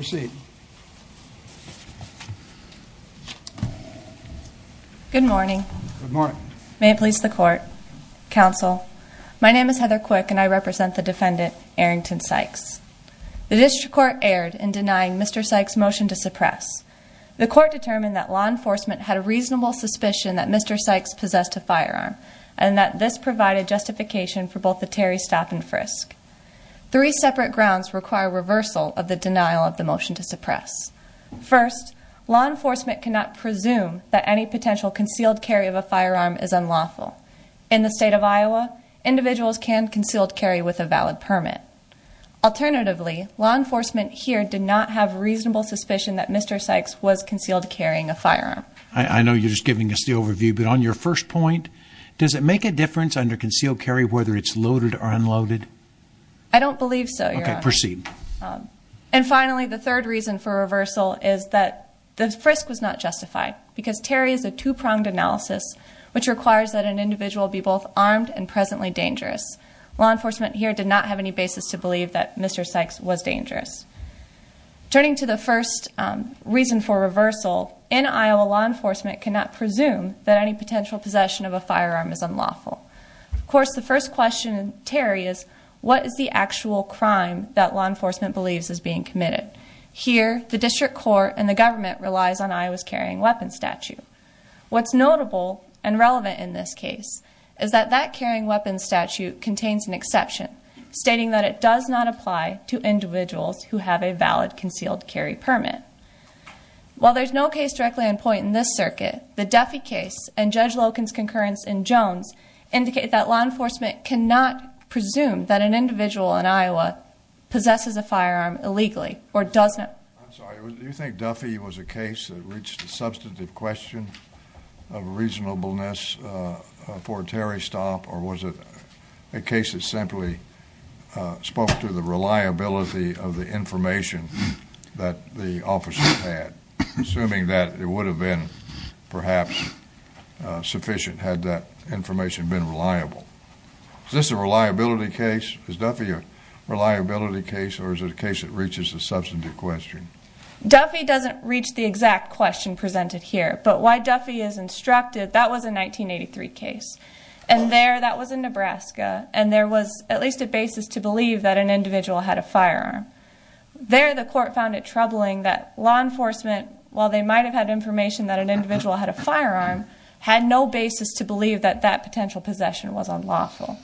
Good morning. May it please the court, counsel. My name is Heather Quick and I represent the defendant, Airrington Sykes. The district court erred in denying Mr. Sykes' motion to suppress. The court determined that law enforcement had a reasonable suspicion that Mr. Sykes possessed a firearm and that this provided justification for both the Terry stop and frisk. Three separate grounds require reversal of the denial of the motion to suppress. First, law enforcement cannot presume that any potential concealed carry of a firearm is unlawful. In the state of Iowa, individuals can concealed carry with a valid permit. Alternatively, law enforcement here did not have reasonable suspicion that Mr. Sykes was concealed carrying a firearm. I know you're just giving us the overview, but on your first point, does it make a difference under concealed carry whether it's loaded or unloaded? I don't believe so, Your Honor. Okay, proceed. And finally, the third reason for reversal is that the frisk was not justified because Terry is a two-pronged analysis which requires that an individual be both armed and presently dangerous. Law enforcement here did not have any basis to believe that Mr. Sykes was dangerous. Turning to the first reason for reversal, in Iowa, law enforcement cannot presume that any potential possession of a firearm is unlawful. Of course, the first question in Terry is, what is the actual crime that law enforcement believes is being committed? Here, the district court and the government relies on Iowa's carrying weapons statute. What's notable and relevant in this case is that that carrying weapons statute contains an exception stating that it does not apply to individuals who have a valid concealed carry permit. While there's no case directly on point in this circuit, the Duffy case and Judge Loken's concurrence in Jones indicate that law enforcement cannot presume that an individual in Iowa possesses a firearm illegally or does not. I'm sorry, do you think Duffy was a case that reached a substantive question of reasonableness for Terry Stomp, or was it a case that simply spoke to the reliability of the information that the officer had, assuming that it would have been perhaps sufficient had that information been reliable? Is this a reliability case? Is Duffy a reliability case, or is it a case that reaches a substantive question? Duffy doesn't reach the exact question presented here, but why Duffy is instructed, that was a 1983 case. And there, that was in Nebraska, and there was at least a basis to believe that an individual had a firearm. There, the court found it troubling that law enforcement, while they might have had information that an individual had a firearm, had no basis to believe that that potential possession was unlawful.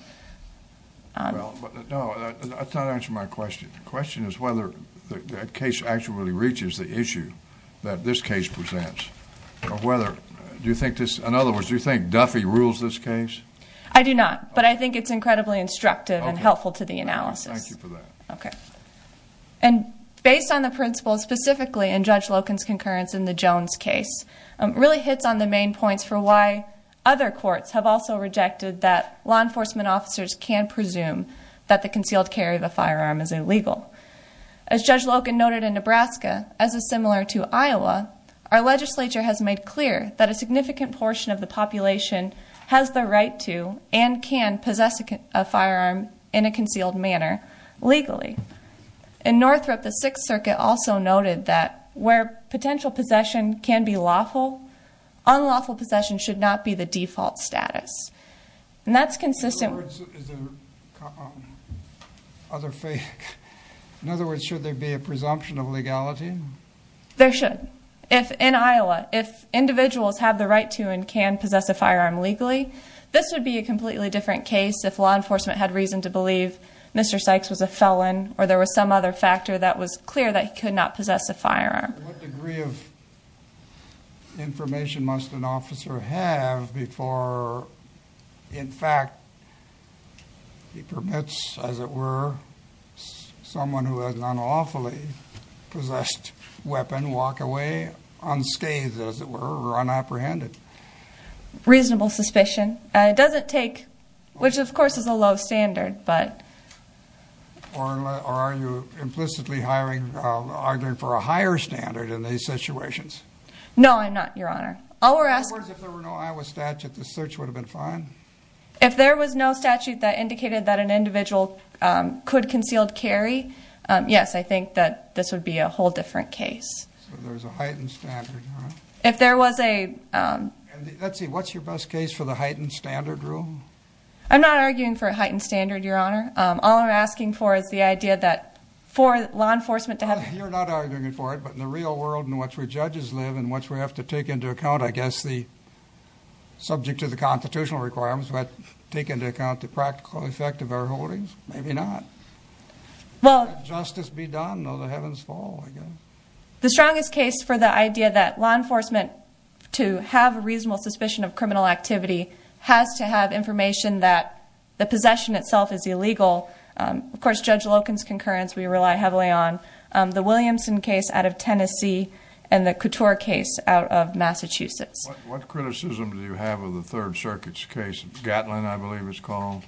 No, that's not answering my question. The question is whether that case actually reaches the issue that this case presents, or whether, do you think this, in other words, do you think Duffy rules this case? I do not, but I think it's incredibly instructive and helpful to the analysis. Okay, thank you for that. And based on the principles specifically in Judge Loken's concurrence in the Jones case, really hits on the main points for why other courts have also rejected that law enforcement officers can presume that the concealed carry of a firearm is illegal. As Judge Loken noted in Nebraska, as is similar to Iowa, our legislature has made clear that a significant portion of the population has the right to, and can, possess a firearm in a concealed manner legally. In Northrop, the Sixth Circuit also noted that where potential possession can be lawful, unlawful possession should not be the default status. And that's consistent- In other words, should there be a presumption of legality? There should. In Iowa, if individuals have the right to and can possess a firearm legally, this would be a completely different case if law enforcement had reason to believe Mr. Sykes was a felon, or there was some other factor that was clear that he could not possess a firearm. What degree of information must an officer have before, in fact, he permits, as it were, someone who has an unlawfully possessed weapon walk away unscathed, as it were, or unapprehended? Reasonable suspicion. It doesn't take- which, of course, is a low standard, but- Or are you implicitly arguing for a higher standard in these situations? No, I'm not, Your Honor. All we're asking- In other words, if there were no Iowa statute, the search would have been fine? If there was no statute that indicated that an individual could concealed carry, yes, I think that this would be a whole different case. So there's a heightened standard, huh? If there was a- Let's see, what's your best case for the heightened standard rule? I'm not arguing for a heightened standard, Your Honor. All I'm asking for is the idea that for law enforcement to have- You're not arguing for it, but in the real world in which we judges live and which we have to take into account, I guess, the- subject to the constitutional requirements, we have to take into account the practical effect of our holdings? Maybe not. Well- Can justice be done? Oh, the heavens fall, I guess. The strongest case for the idea that law enforcement, to have a reasonable suspicion of criminal activity, has to have information that the possession itself is illegal- of course, Judge Loken's concurrence we rely heavily on- the Williamson case out of Tennessee and the Couture case out of Massachusetts. What criticism do you have of the Third Circuit's case? Gatlin, I believe it's called?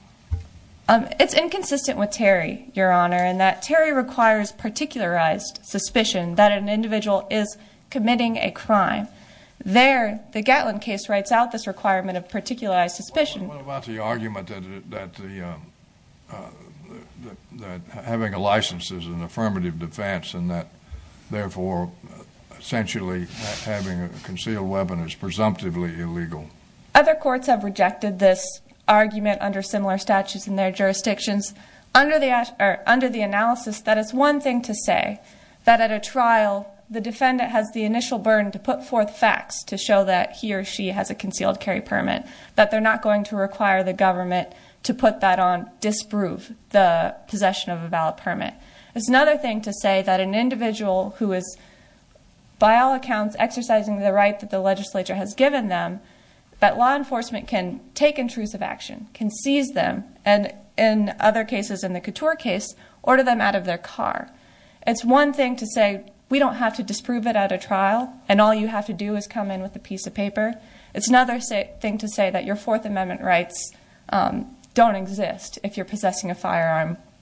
It's inconsistent with Terry, Your Honor, in that Terry requires particularized suspicion that an individual is committing a crime. There, the Gatlin case writes out this requirement of particularized suspicion- What about the argument that the- that having a license is an affirmative defense and that therefore, essentially, having a concealed weapon is presumptively illegal? Other courts have rejected this argument under similar statutes in their jurisdictions. Under the- under the analysis, that is one thing to say, that at a trial, the defendant has the initial burden to put forth facts to show that he or she has a concealed carry permit, that they're not going to require the government to put that on, disprove the possession of a valid permit. It's another thing to say that an individual who is, by all accounts, exercising the right that the legislature has given them, that law enforcement can take intrusive action, can seize them, and in other cases, in the Couture case, order them out of their car. It's one thing to say, we don't have to disprove it at a trial, and all you have to do is come in with a piece of paper. It's another thing to say that your Fourth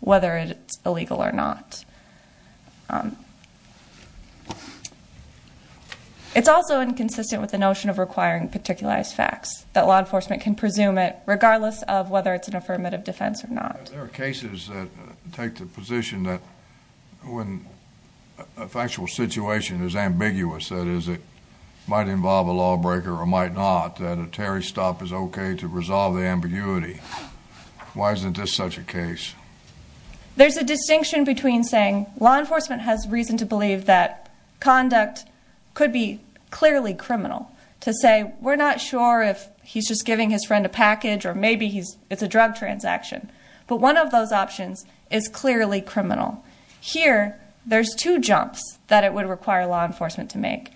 whether it's illegal or not. It's also inconsistent with the notion of requiring particularized facts, that law enforcement can presume it regardless of whether it's an affirmative defense or not. There are cases that take the position that when a factual situation is ambiguous, that is, it might involve a lawbreaker or might not, that a Terry stop is okay to resolve the ambiguity. Why isn't this such a case? There's a distinction between saying, law enforcement has reason to believe that conduct could be clearly criminal, to say, we're not sure if he's just giving his friend a package or maybe it's a drug transaction. But one of those options is clearly criminal. Here, there's two jumps that it would require law enforcement to make.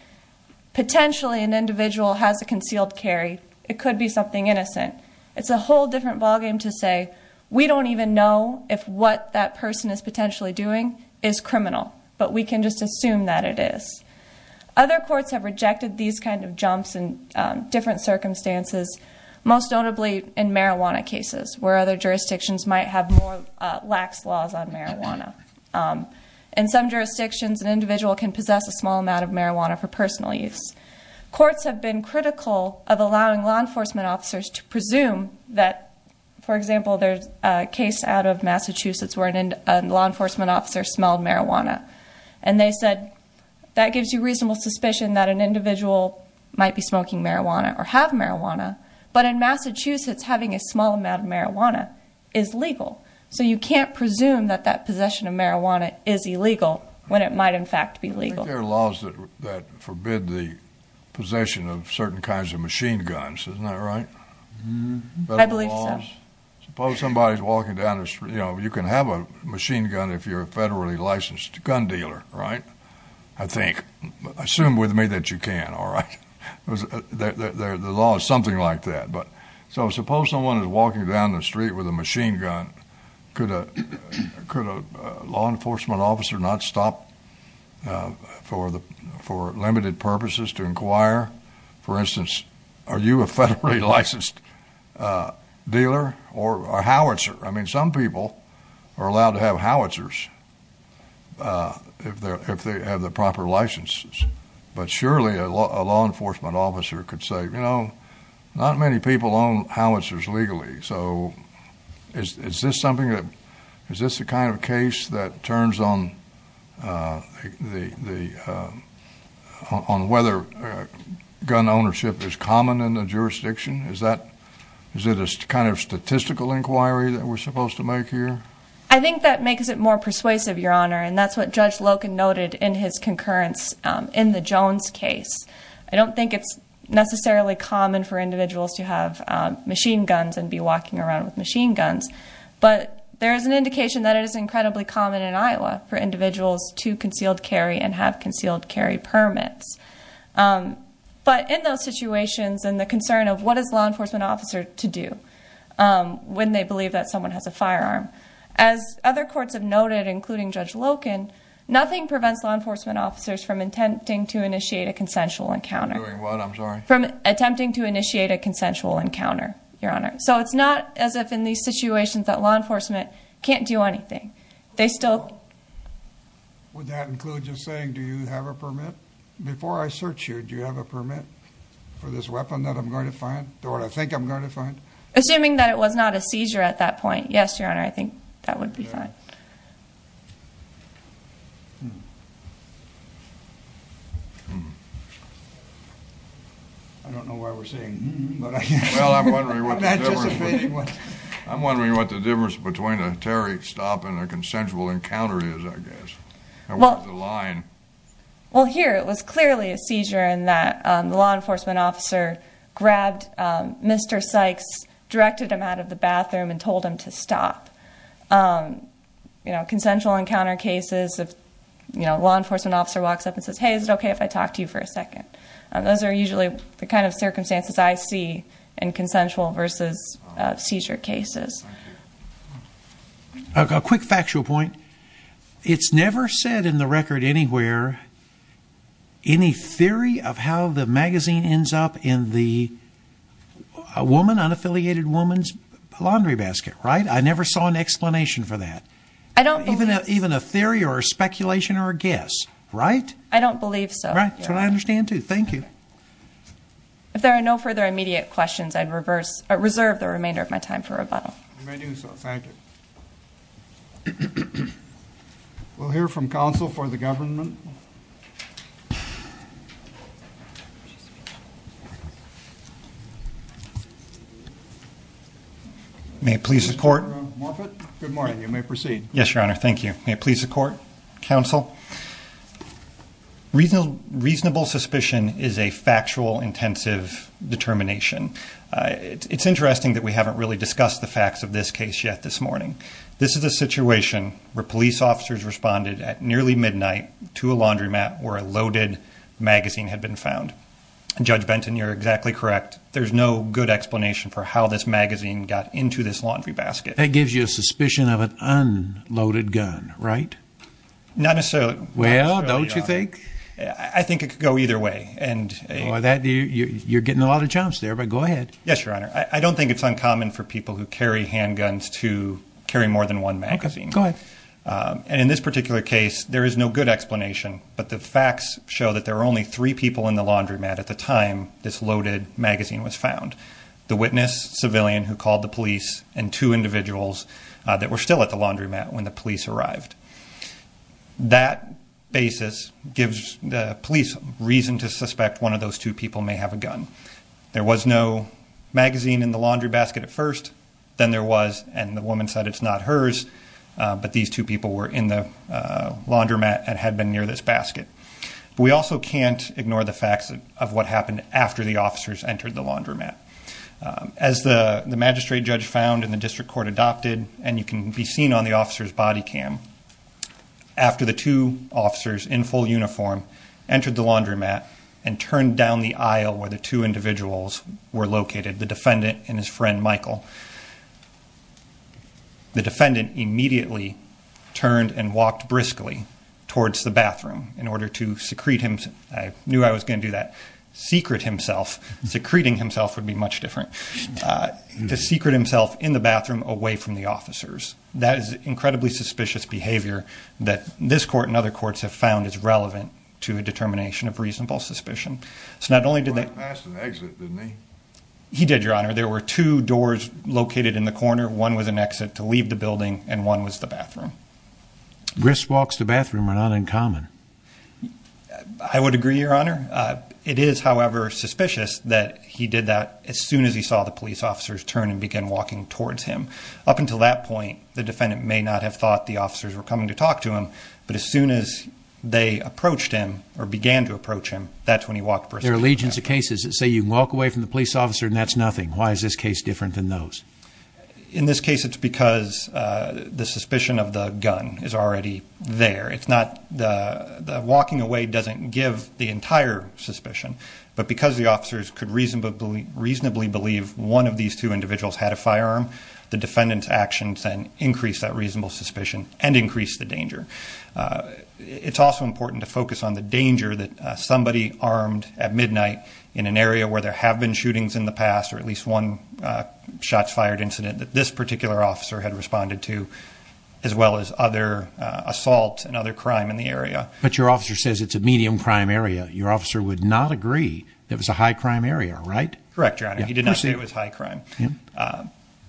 Potentially, an individual has a concealed carry. It could be something innocent. It's a whole different ballgame to say, we don't even know if what that person is potentially doing is criminal, but we can just assume that it is. Other courts have rejected these kinds of jumps in different circumstances, most notably in marijuana cases, where other jurisdictions might have more lax laws on marijuana. In some jurisdictions, an individual can possess a small amount of marijuana for personal use. Courts have been critical of allowing law enforcement officers to presume that, for example, there's a case out of Massachusetts where a law enforcement officer smelled marijuana. And they said, that gives you reasonable suspicion that an individual might be smoking marijuana or have marijuana. But in Massachusetts, having a small amount of marijuana is legal. So you can't presume that that possession of marijuana is illegal when it might, in fact, be legal. I think there are laws that forbid the possession of certain kinds of machine guns. Isn't that right? I believe so. Suppose somebody's walking down the street. You can have a machine gun if you're a federally licensed gun dealer, right? I think. Assume with me that you can, all right? The law is something like that. So suppose someone is walking down the street with a machine gun. Could a law enforcement officer not stop for limited purposes to inquire? For instance, are you a federally licensed dealer or a howitzer? I mean, some people are allowed to have howitzers if they have the proper licenses. But surely a law enforcement officer could say, you know, not many people own howitzers legally. So is this the kind of case that turns on whether gun ownership is common in the jurisdiction? Is it a kind of statistical inquiry that we're supposed to make here? I think that makes it more persuasive, Your Honor. And that's what Judge Loken noted in his concurrence in the Jones case. I don't think it's necessarily common for individuals to have machine guns and be walking around with machine guns. But there is an indication that it is incredibly common in Iowa for individuals to concealed carry and have concealed carry permits. But in those situations and the concern of what is law enforcement officer to do when they believe that someone has a firearm? As other courts have noted, including Judge Loken, nothing prevents law enforcement officers from attempting to initiate a consensual encounter. From attempting to initiate a consensual encounter, Your Honor. So it's not as if in these situations that law enforcement can't do anything, they still... Would that include just saying, do you have a permit? Before I search you, do you have a permit for this weapon that I'm going to find or I think I'm going to find? Assuming that it was not a seizure at that point. Yes, Your Honor. I think that would be fine. I don't know why we're saying hmm, but I guess... Well, I'm wondering what the difference between a terrorist stop and a consensual encounter is, I guess. Well, here it was clearly a seizure in that the law enforcement officer grabbed Mr. Sykes' boots, directed him out of the bathroom, and told him to stop. Consensual encounter cases, if a law enforcement officer walks up and says, hey, is it okay if I talk to you for a second? Those are usually the kind of circumstances I see in consensual versus seizure cases. A quick factual point. It's never said in the record anywhere, any theory of how the woman's laundry basket, right? I never saw an explanation for that. Even a theory or a speculation or a guess, right? I don't believe so. Right. That's what I understand, too. Thank you. If there are no further immediate questions, I'd reserve the remainder of my time for rebuttal. You may do so. Thank you. We'll hear from counsel for the government. May it please the court? Good morning. You may proceed. Yes, Your Honor. Thank you. May it please the court? Counsel? Reasonable suspicion is a factual, intensive determination. It's interesting that we haven't really discussed the facts of this case yet this morning. This is a situation where police officers responded at nearly midnight to a laundromat where a loaded magazine had been found. Judge Benton, you're exactly correct. There's no good explanation for how this magazine got into this laundry basket. That gives you a suspicion of an unloaded gun, right? Not necessarily. Well, don't you think? I think it could go either way. You're getting a lot of jumps there, but go ahead. Yes, Your Honor. I don't think it's uncommon for people who carry handguns to carry more than one magazine. Go ahead. And in this particular case, there is no good explanation. But the facts show that there were only three people in the laundromat at the time this loaded magazine was found. The witness, civilian who called the police, and two individuals that were still at the laundromat when the police arrived. That basis gives the police reason to suspect one of those two people may have a gun. There was no magazine in the laundry basket at first. Then there was, and the woman said it's not hers. But these two people were in the laundromat and had been near this basket. We also can't ignore the facts of what happened after the officers entered the laundromat. As the magistrate judge found and the district court adopted, and you can be seen on the officer's body cam, after the two officers in full uniform entered the laundromat and turned down the aisle where the two individuals were located, the defendant and his friend, Michael, the defendant immediately turned and walked briskly towards the bathroom in order to secrete himself. I knew I was going to do that. Secret himself. Secreting himself would be much different. To secret himself in the bathroom away from the officers. That is incredibly suspicious behavior that this court and other courts have found is relevant to a determination of reasonable suspicion. So not only did they... He went past an exit, didn't he? He did, Your Honor. There were two doors located in the corner. One was an exit to leave the building and one was the bathroom. Brisk walks to the bathroom are not uncommon. I would agree, Your Honor. It is, however, suspicious that he did that as soon as he saw the police officers turn and begin walking towards him. Up until that point, the defendant may not have thought the officers were coming to talk to him, but as soon as they approached him or began to approach him, that's when he walked briskly. There are legions of cases that say you can walk away from the police officer and that's nothing. Why is this case different than those? In this case, it's because the suspicion of the gun is already there. It's not the walking away doesn't give the entire suspicion, but because the officers could reasonably believe one of these two individuals had a firearm, the defendant's actions then increase that reasonable suspicion and increase the danger. It's also important to focus on the danger that somebody armed at midnight in an area where there have been shootings in the past or at least one shots fired incident that this particular officer had responded to, as well as other assaults and other crime in the area. But your officer says it's a medium crime area. Your officer would not agree it was a high crime area, right? Correct, Your Honor. He did not say it was high crime.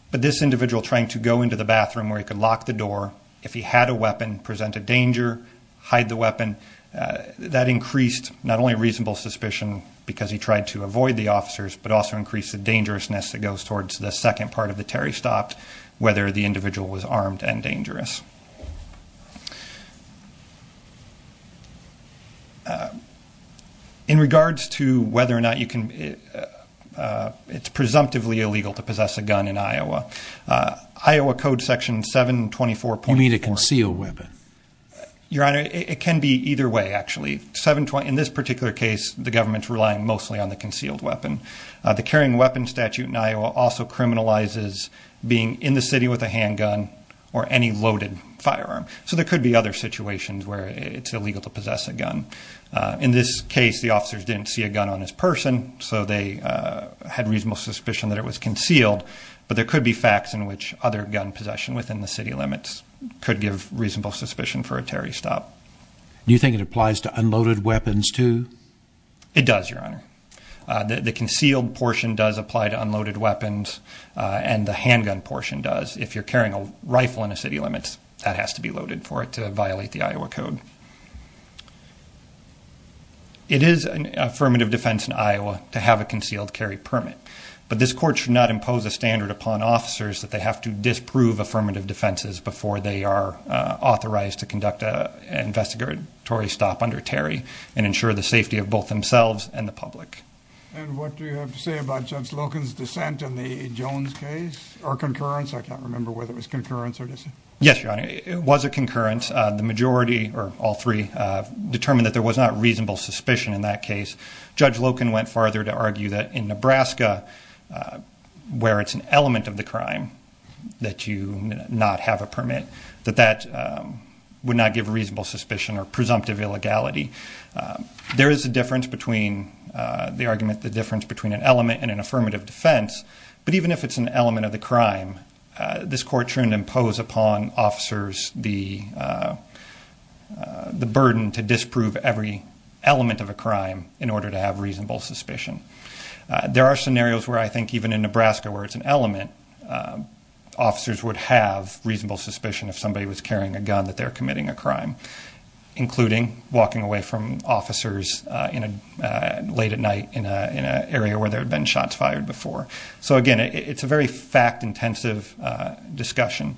But this individual trying to go into the bathroom where he could lock the door, if he had a weapon, present a danger, hide the weapon, that increased not only reasonable suspicion because he tried to avoid the officers, but also increased the dangerousness that goes towards the second part of the Terry stopped, whether the individual was armed and dangerous. In regards to whether or not it's presumptively illegal to possess a gun in Iowa, Iowa code section 724. You mean a concealed weapon? Your Honor, it can be either way, actually. In this particular case, the government's relying mostly on the concealed weapon. The carrying weapon statute in Iowa also criminalizes being in the city with a handgun or any loaded firearm. So there could be other situations where it's illegal to possess a gun. In this case, the officers didn't see a gun on his person, so they had reasonable suspicion that it was concealed. But there could be facts in which other gun possession within the city limits could give reasonable suspicion for a Terry stop. Do you think it applies to unloaded weapons, too? It does, Your Honor. The concealed portion does apply to unloaded weapons, and the handgun portion does. If you're carrying a rifle in a city limits, that has to be loaded for it to violate the Iowa code. It is an affirmative defense in Iowa to have a concealed carry permit. But this court should not impose a standard upon officers that they have to disprove affirmative defenses before they are authorized to conduct an investigatory stop under Terry and ensure the safety of both themselves and the public. And what do you have to say about Judge Loken's dissent in the Jones case, or concurrence? I can't remember whether it was concurrence or dissent. Yes, Your Honor, it was a concurrence. The majority, or all three, determined that there was not reasonable suspicion in that case. Judge Loken went farther to argue that in Nebraska, where it's an element of the crime that you not have a permit, that that would not give reasonable suspicion or presumptive illegality. There is a difference between the argument, the difference between an element and an affirmative defense, but even if it's an element of the crime, this court shouldn't impose upon officers the burden to disprove every element of a crime in order to have reasonable suspicion. There are scenarios where I think even in Nebraska where it's an element, officers would have reasonable suspicion if somebody was carrying a gun that they were committing a crime, including walking away from officers late at night in an area where there had been shots fired before. So, again, it's a very fact-intensive discussion.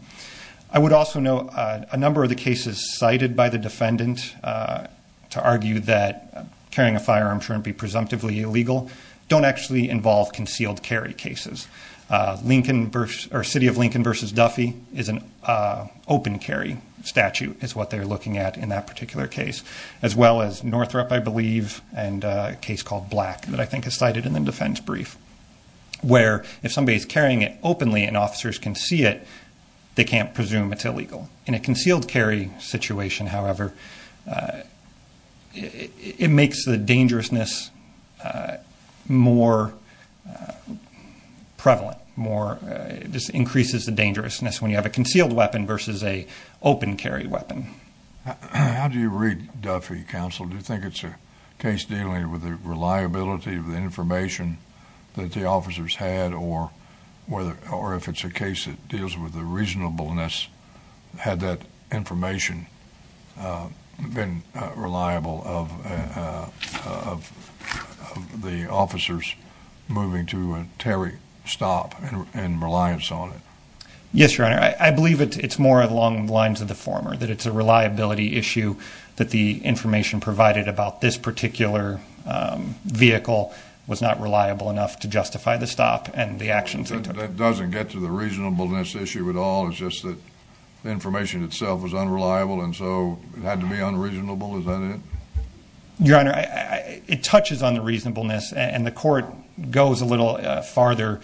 I would also note a number of the cases cited by the defendant to argue that carrying a firearm shouldn't be presumptively illegal don't actually involve concealed carry cases. City of Lincoln v. Duffy is an open carry statute is what they're looking at in that particular case, as well as Northrop, I believe, and a case called Black that I think is cited in the defense brief, where if somebody is carrying it openly and officers can see it, they can't presume it's illegal. In a concealed carry situation, however, it makes the dangerousness more prevalent, just increases the dangerousness when you have a concealed weapon versus an open carry weapon. How do you read Duffy, counsel? Do you think it's a case dealing with the reliability of the information that the officers had, or if it's a case that deals with the reasonableness, had that information been reliable of the officers moving to a tariff stop and reliance on it? Yes, Your Honor, I believe it's more along the lines of the former, that it's a reliability issue that the information provided about this particular vehicle was not reliable enough to justify the stop and the actions they took. That doesn't get to the reasonableness issue at all. It's just that the information itself was unreliable, and so it had to be unreasonable. Is that it? Your Honor, it touches on the reasonableness, and the court goes a little farther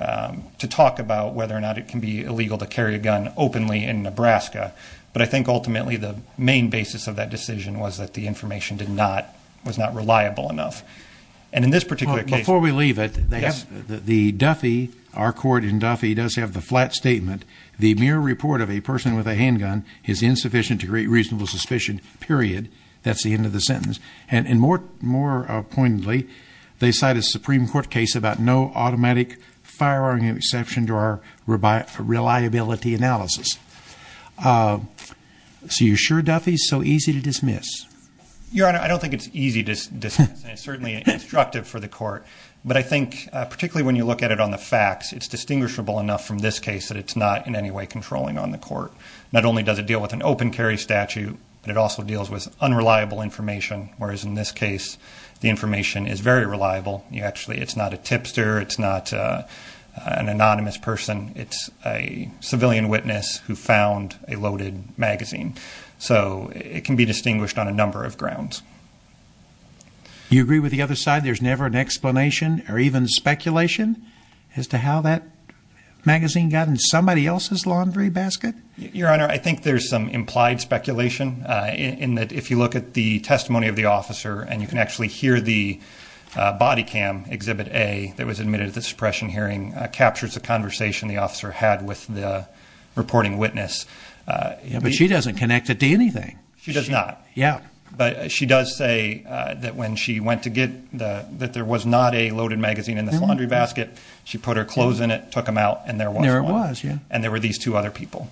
to talk about whether or not it can be illegal to carry a gun openly in Nebraska. But I think ultimately the main basis of that decision was that the information was not reliable enough. Before we leave it, our court in Duffy does have the flat statement, the mere report of a person with a handgun is insufficient to create reasonable suspicion, period. And more poignantly, they cite a Supreme Court case about no automatic firearm exception to our reliability analysis. So you're sure Duffy is so easy to dismiss? Your Honor, I don't think it's easy to dismiss, and it's certainly instructive for the court. But I think particularly when you look at it on the facts, it's distinguishable enough from this case that it's not in any way controlling on the court. Not only does it deal with an open carry statute, but it also deals with unreliable information, whereas in this case the information is very reliable. Actually, it's not a tipster. It's not an anonymous person. It's a civilian witness who found a loaded magazine. So it can be distinguished on a number of grounds. You agree with the other side? There's never an explanation or even speculation as to how that magazine got in somebody else's laundry basket? Your Honor, I think there's some implied speculation in that if you look at the testimony of the officer and you can actually hear the body cam, Exhibit A, that was admitted at the suppression hearing, captures a conversation the officer had with the reporting witness. But she doesn't connect it to anything. She does not. Yeah. But she does say that when she went to get the, that there was not a loaded magazine in this laundry basket, she put her clothes in it, took them out, and there was one. There it was, yeah. And there were these two other people.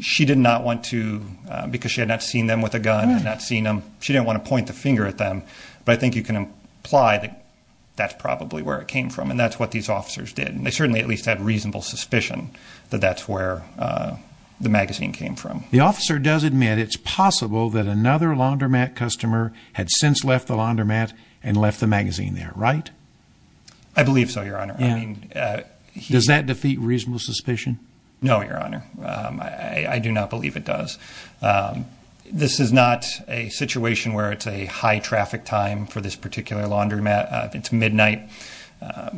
She did not want to, because she had not seen them with a gun, had not seen them, she didn't want to point the finger at them. But I think you can imply that that's probably where it came from, and that's what these officers did. They certainly at least had reasonable suspicion that that's where the magazine came from. The officer does admit it's possible that another laundromat customer had since left the laundromat and left the magazine there, right? I believe so, Your Honor. Does that defeat reasonable suspicion? No, Your Honor. I do not believe it does. This is not a situation where it's a high traffic time for this particular laundromat. It's midnight.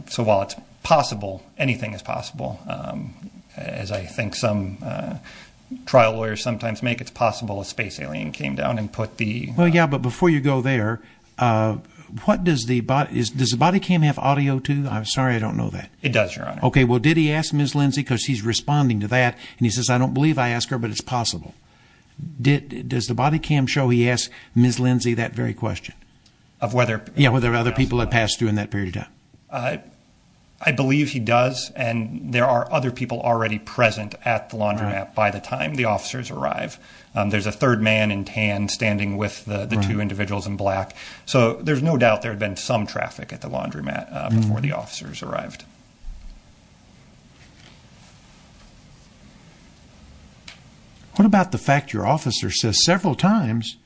So while it's possible, anything is possible. As I think some trial lawyers sometimes make, it's possible a space alien came down and put the— Well, yeah, but before you go there, does the body cam have audio, too? I'm sorry, I don't know that. It does, Your Honor. Okay, well, did he ask Ms. Lindsay, because he's responding to that, and he says, I don't believe I asked her, but it's possible. Does the body cam show he asked Ms. Lindsay that very question? Of whether— Yeah, whether other people had passed through in that period of time. I believe he does, and there are other people already present at the laundromat by the time the officers arrive. There's a third man in tan standing with the two individuals in black. So there's no doubt there had been some traffic at the laundromat before the officers arrived. What about the fact your officer says several times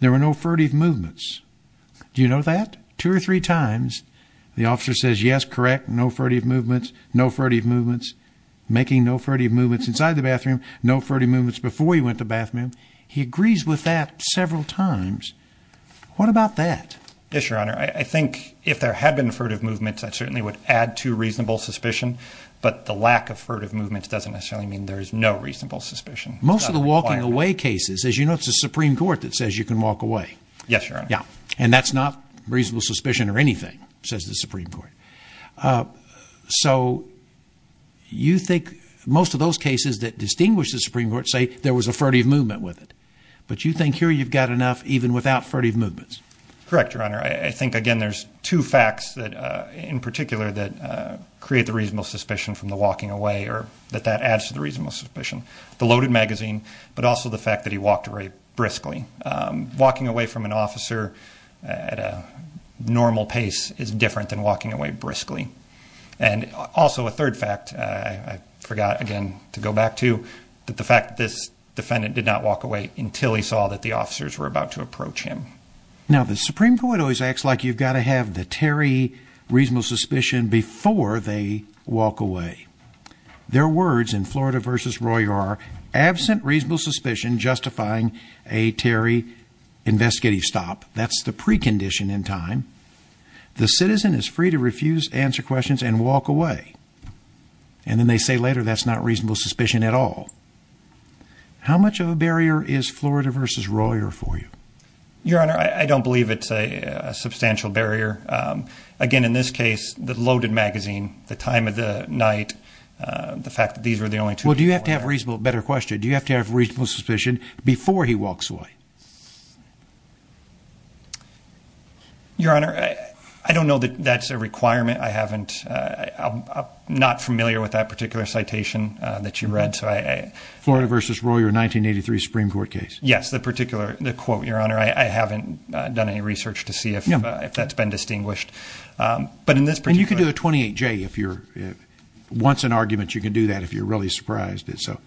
there were no furtive movements? Do you know that? Two or three times the officer says, yes, correct, no furtive movements, no furtive movements, making no furtive movements inside the bathroom, no furtive movements before he went to the bathroom. He agrees with that several times. What about that? Yes, Your Honor. I think if there had been furtive movements, that certainly would add to reasonable suspicion, but the lack of furtive movements doesn't necessarily mean there is no reasonable suspicion. Most of the walking away cases, as you know, it's the Supreme Court that says you can walk away. Yes, Your Honor. Yes, and that's not reasonable suspicion or anything, says the Supreme Court. So you think most of those cases that distinguish the Supreme Court say there was a furtive movement with it, but you think here you've got enough even without furtive movements. Correct, Your Honor. I think, again, there's two facts in particular that create the reasonable suspicion from the walking away or that that adds to the reasonable suspicion, the loaded magazine, but also the fact that he walked away briskly. Walking away from an officer at a normal pace is different than walking away briskly. And also a third fact I forgot, again, to go back to, that the fact that this defendant did not walk away until he saw that the officers were about to approach him. Now, the Supreme Court always acts like you've got to have the Terry reasonable suspicion before they walk away. Their words in Florida v. Royer are absent reasonable suspicion justifying a Terry investigative stop. That's the precondition in time. The citizen is free to refuse, answer questions, and walk away. And then they say later that's not reasonable suspicion at all. How much of a barrier is Florida v. Royer for you? Your Honor, I don't believe it's a substantial barrier. Again, in this case, the loaded magazine, the time of the night, the fact that these were the only two. Well, do you have to have a reasonable, better question, do you have to have reasonable suspicion before he walks away? Your Honor, I don't know that that's a requirement. I haven't, I'm not familiar with that particular citation that you read. Florida v. Royer, 1983 Supreme Court case. Yes, the particular quote, Your Honor. I haven't done any research to see if that's been distinguished. And you can do a 28-J if you're, once an argument, you can do that if you're really surprised. Yes, Your Honor.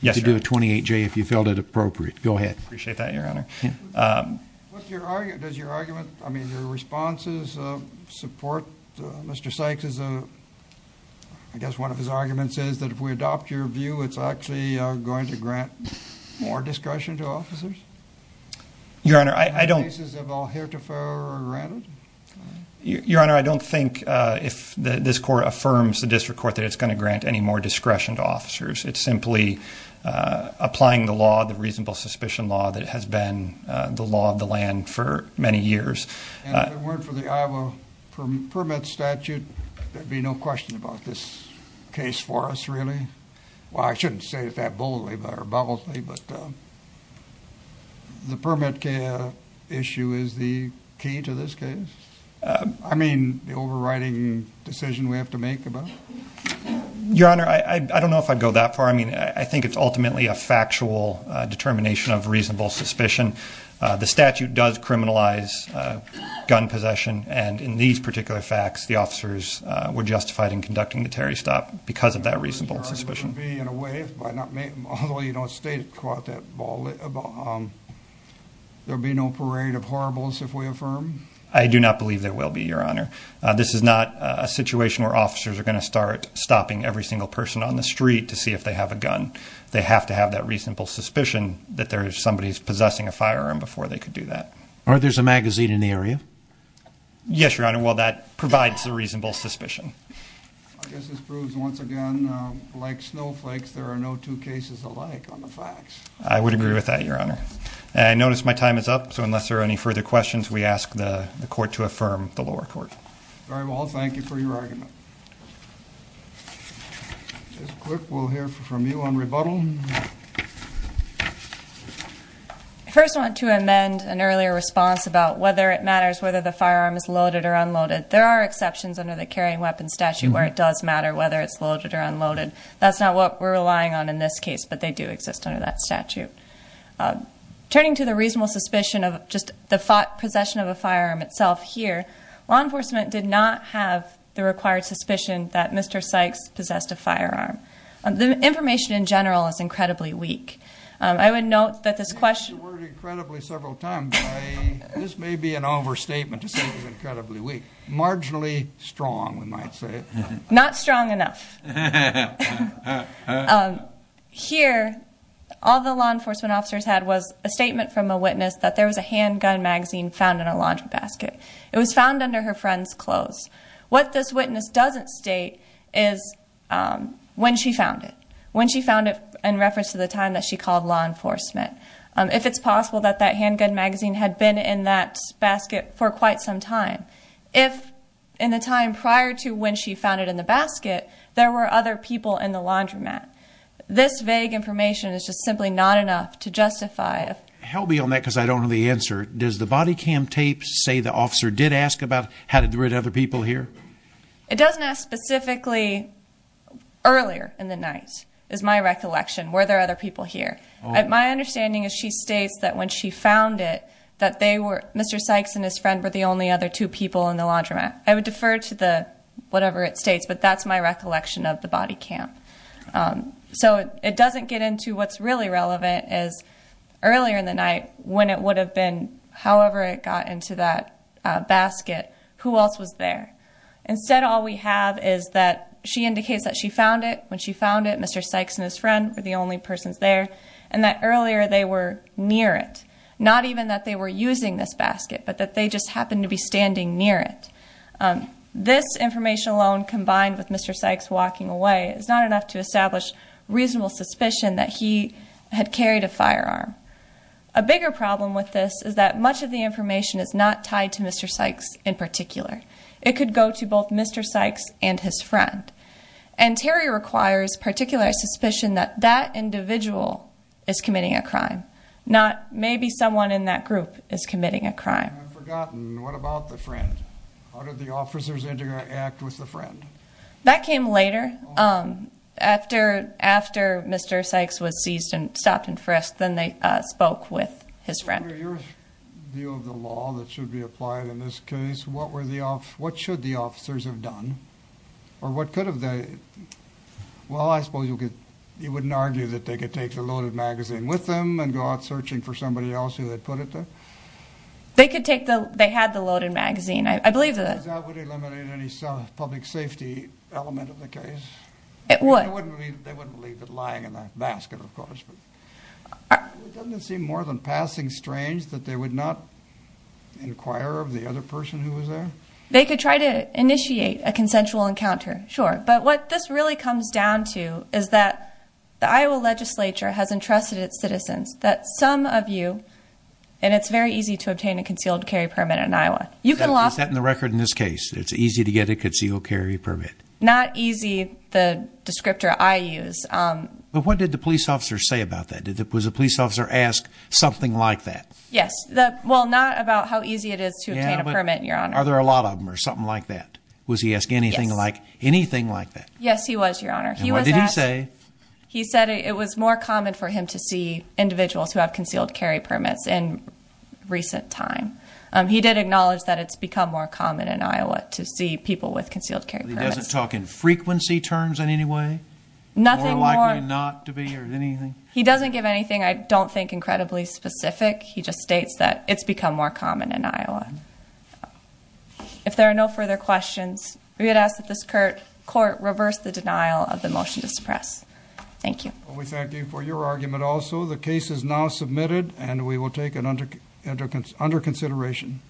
You can do a 28-J if you felt it appropriate. Go ahead. Appreciate that, Your Honor. Does your argument, I mean, your responses support Mr. Sykes? I guess one of his arguments is that if we adopt your view, it's actually going to grant more discretion to officers? Your Honor, I don't... In cases of all heretofore granted? Your Honor, I don't think if this court affirms, the district court, that it's going to grant any more discretion to officers. It's simply applying the law, the reasonable suspicion law that has been the law of the land for many years. And if it weren't for the Iowa permit statute, there'd be no question about this case for us, really? Well, I shouldn't say it that boldly, but the permit issue is the key to this case? I mean, the overriding decision we have to make about it? Your Honor, I don't know if I'd go that far. I mean, I think it's ultimately a factual determination of reasonable suspicion. The statute does criminalize gun possession, and in these particular facts, the officers were justified in conducting the terrorist stop because of that reasonable suspicion. Your argument would be, in a way, although you don't state it quite that boldly, there'd be no parade of horribles if we affirm? I do not believe there will be, Your Honor. This is not a situation where officers are going to start stopping every single person on the street to see if they have a gun. They have to have that reasonable suspicion that somebody is possessing a firearm before they could do that. Or there's a magazine in the area? Yes, Your Honor. Well, that provides a reasonable suspicion. I guess this proves, once again, like snowflakes, there are no two cases alike on the facts. I would agree with that, Your Honor. I notice my time is up, so unless there are any further questions, we ask the Court to affirm the lower court. Very well. Thank you for your argument. This clerk will hear from you on rebuttal. I first want to amend an earlier response about whether it matters whether the firearm is loaded or unloaded. There are exceptions under the carrying weapons statute where it does matter whether it's loaded or unloaded. That's not what we're relying on in this case, but they do exist under that statute. Turning to the reasonable suspicion of just the possession of a firearm itself here, law enforcement did not have the required suspicion that Mr. Sykes possessed a firearm. The information in general is incredibly weak. I would note that this question I've heard the word incredibly several times, but this may be an overstatement to say it's incredibly weak. Marginally strong, we might say. Not strong enough. Here, all the law enforcement officers had was a statement from a witness that there was a handgun magazine found in a laundry basket. It was found under her friend's clothes. What this witness doesn't state is when she found it. When she found it in reference to the time that she called law enforcement. If it's possible that that handgun magazine had been in that basket for quite some time. If in the time prior to when she found it in the basket, there were other people in the laundromat. This vague information is just simply not enough to justify. Help me on that because I don't know the answer. Does the body cam tape say the officer did ask about how to get rid of other people here? It doesn't ask specifically earlier in the night is my recollection. Were there other people here? My understanding is she states that when she found it that they were Mr. Sykes and his friend were the only other two people in the laundromat. I would defer to the whatever it states, but that's my recollection of the body cam. So it doesn't get into what's really relevant is earlier in the night when it would have been. However, it got into that basket. Who else was there? Instead, all we have is that she indicates that she found it when she found it. Mr. Sykes and his friend were the only persons there, and that earlier they were near it. Not even that they were using this basket, but that they just happened to be standing near it. This information alone, combined with Mr. Sykes walking away, is not enough to establish reasonable suspicion that he had carried a firearm. A bigger problem with this is that much of the information is not tied to Mr. Sykes in particular. It could go to both Mr. Sykes and his friend. And Terry requires particular suspicion that that individual is committing a crime, not maybe someone in that group is committing a crime. I've forgotten. What about the friend? How did the officers interact with the friend? That came later. After Mr. Sykes was seized and stopped and frisked, then they spoke with his friend. In your view of the law that should be applied in this case, what should the officers have done? Or what could have they... Well, I suppose you wouldn't argue that they could take the loaded magazine with them and go out searching for somebody else who had put it there? They had the loaded magazine. I believe that... Does that eliminate any public safety element of the case? It would. They wouldn't leave it lying in that basket, of course. Doesn't it seem more than passing strange that they would not inquire of the other person who was there? They could try to initiate a consensual encounter, sure. But what this really comes down to is that the Iowa legislature has entrusted its citizens that some of you... And it's very easy to obtain a concealed carry permit in Iowa. Is that in the record in this case? It's easy to get a concealed carry permit? Not easy, the descriptor I use. But what did the police officer say about that? Was the police officer asked something like that? Yes. Well, not about how easy it is to obtain a permit, Your Honor. Are there a lot of them or something like that? Yes. Was he asked anything like that? Yes, he was, Your Honor. And what did he say? He said it was more common for him to see individuals who have concealed carry permits in recent time. He did acknowledge that it's become more common in Iowa to see people with concealed carry permits. He doesn't talk in frequency terms in any way? Nothing more... More likely not to be or anything? He doesn't give anything I don't think incredibly specific. He just states that it's become more common in Iowa. If there are no further questions, we would ask that this court reverse the denial of the motion to suppress. Thank you. We thank you for your argument also. The case is now submitted, and we will take it under consideration.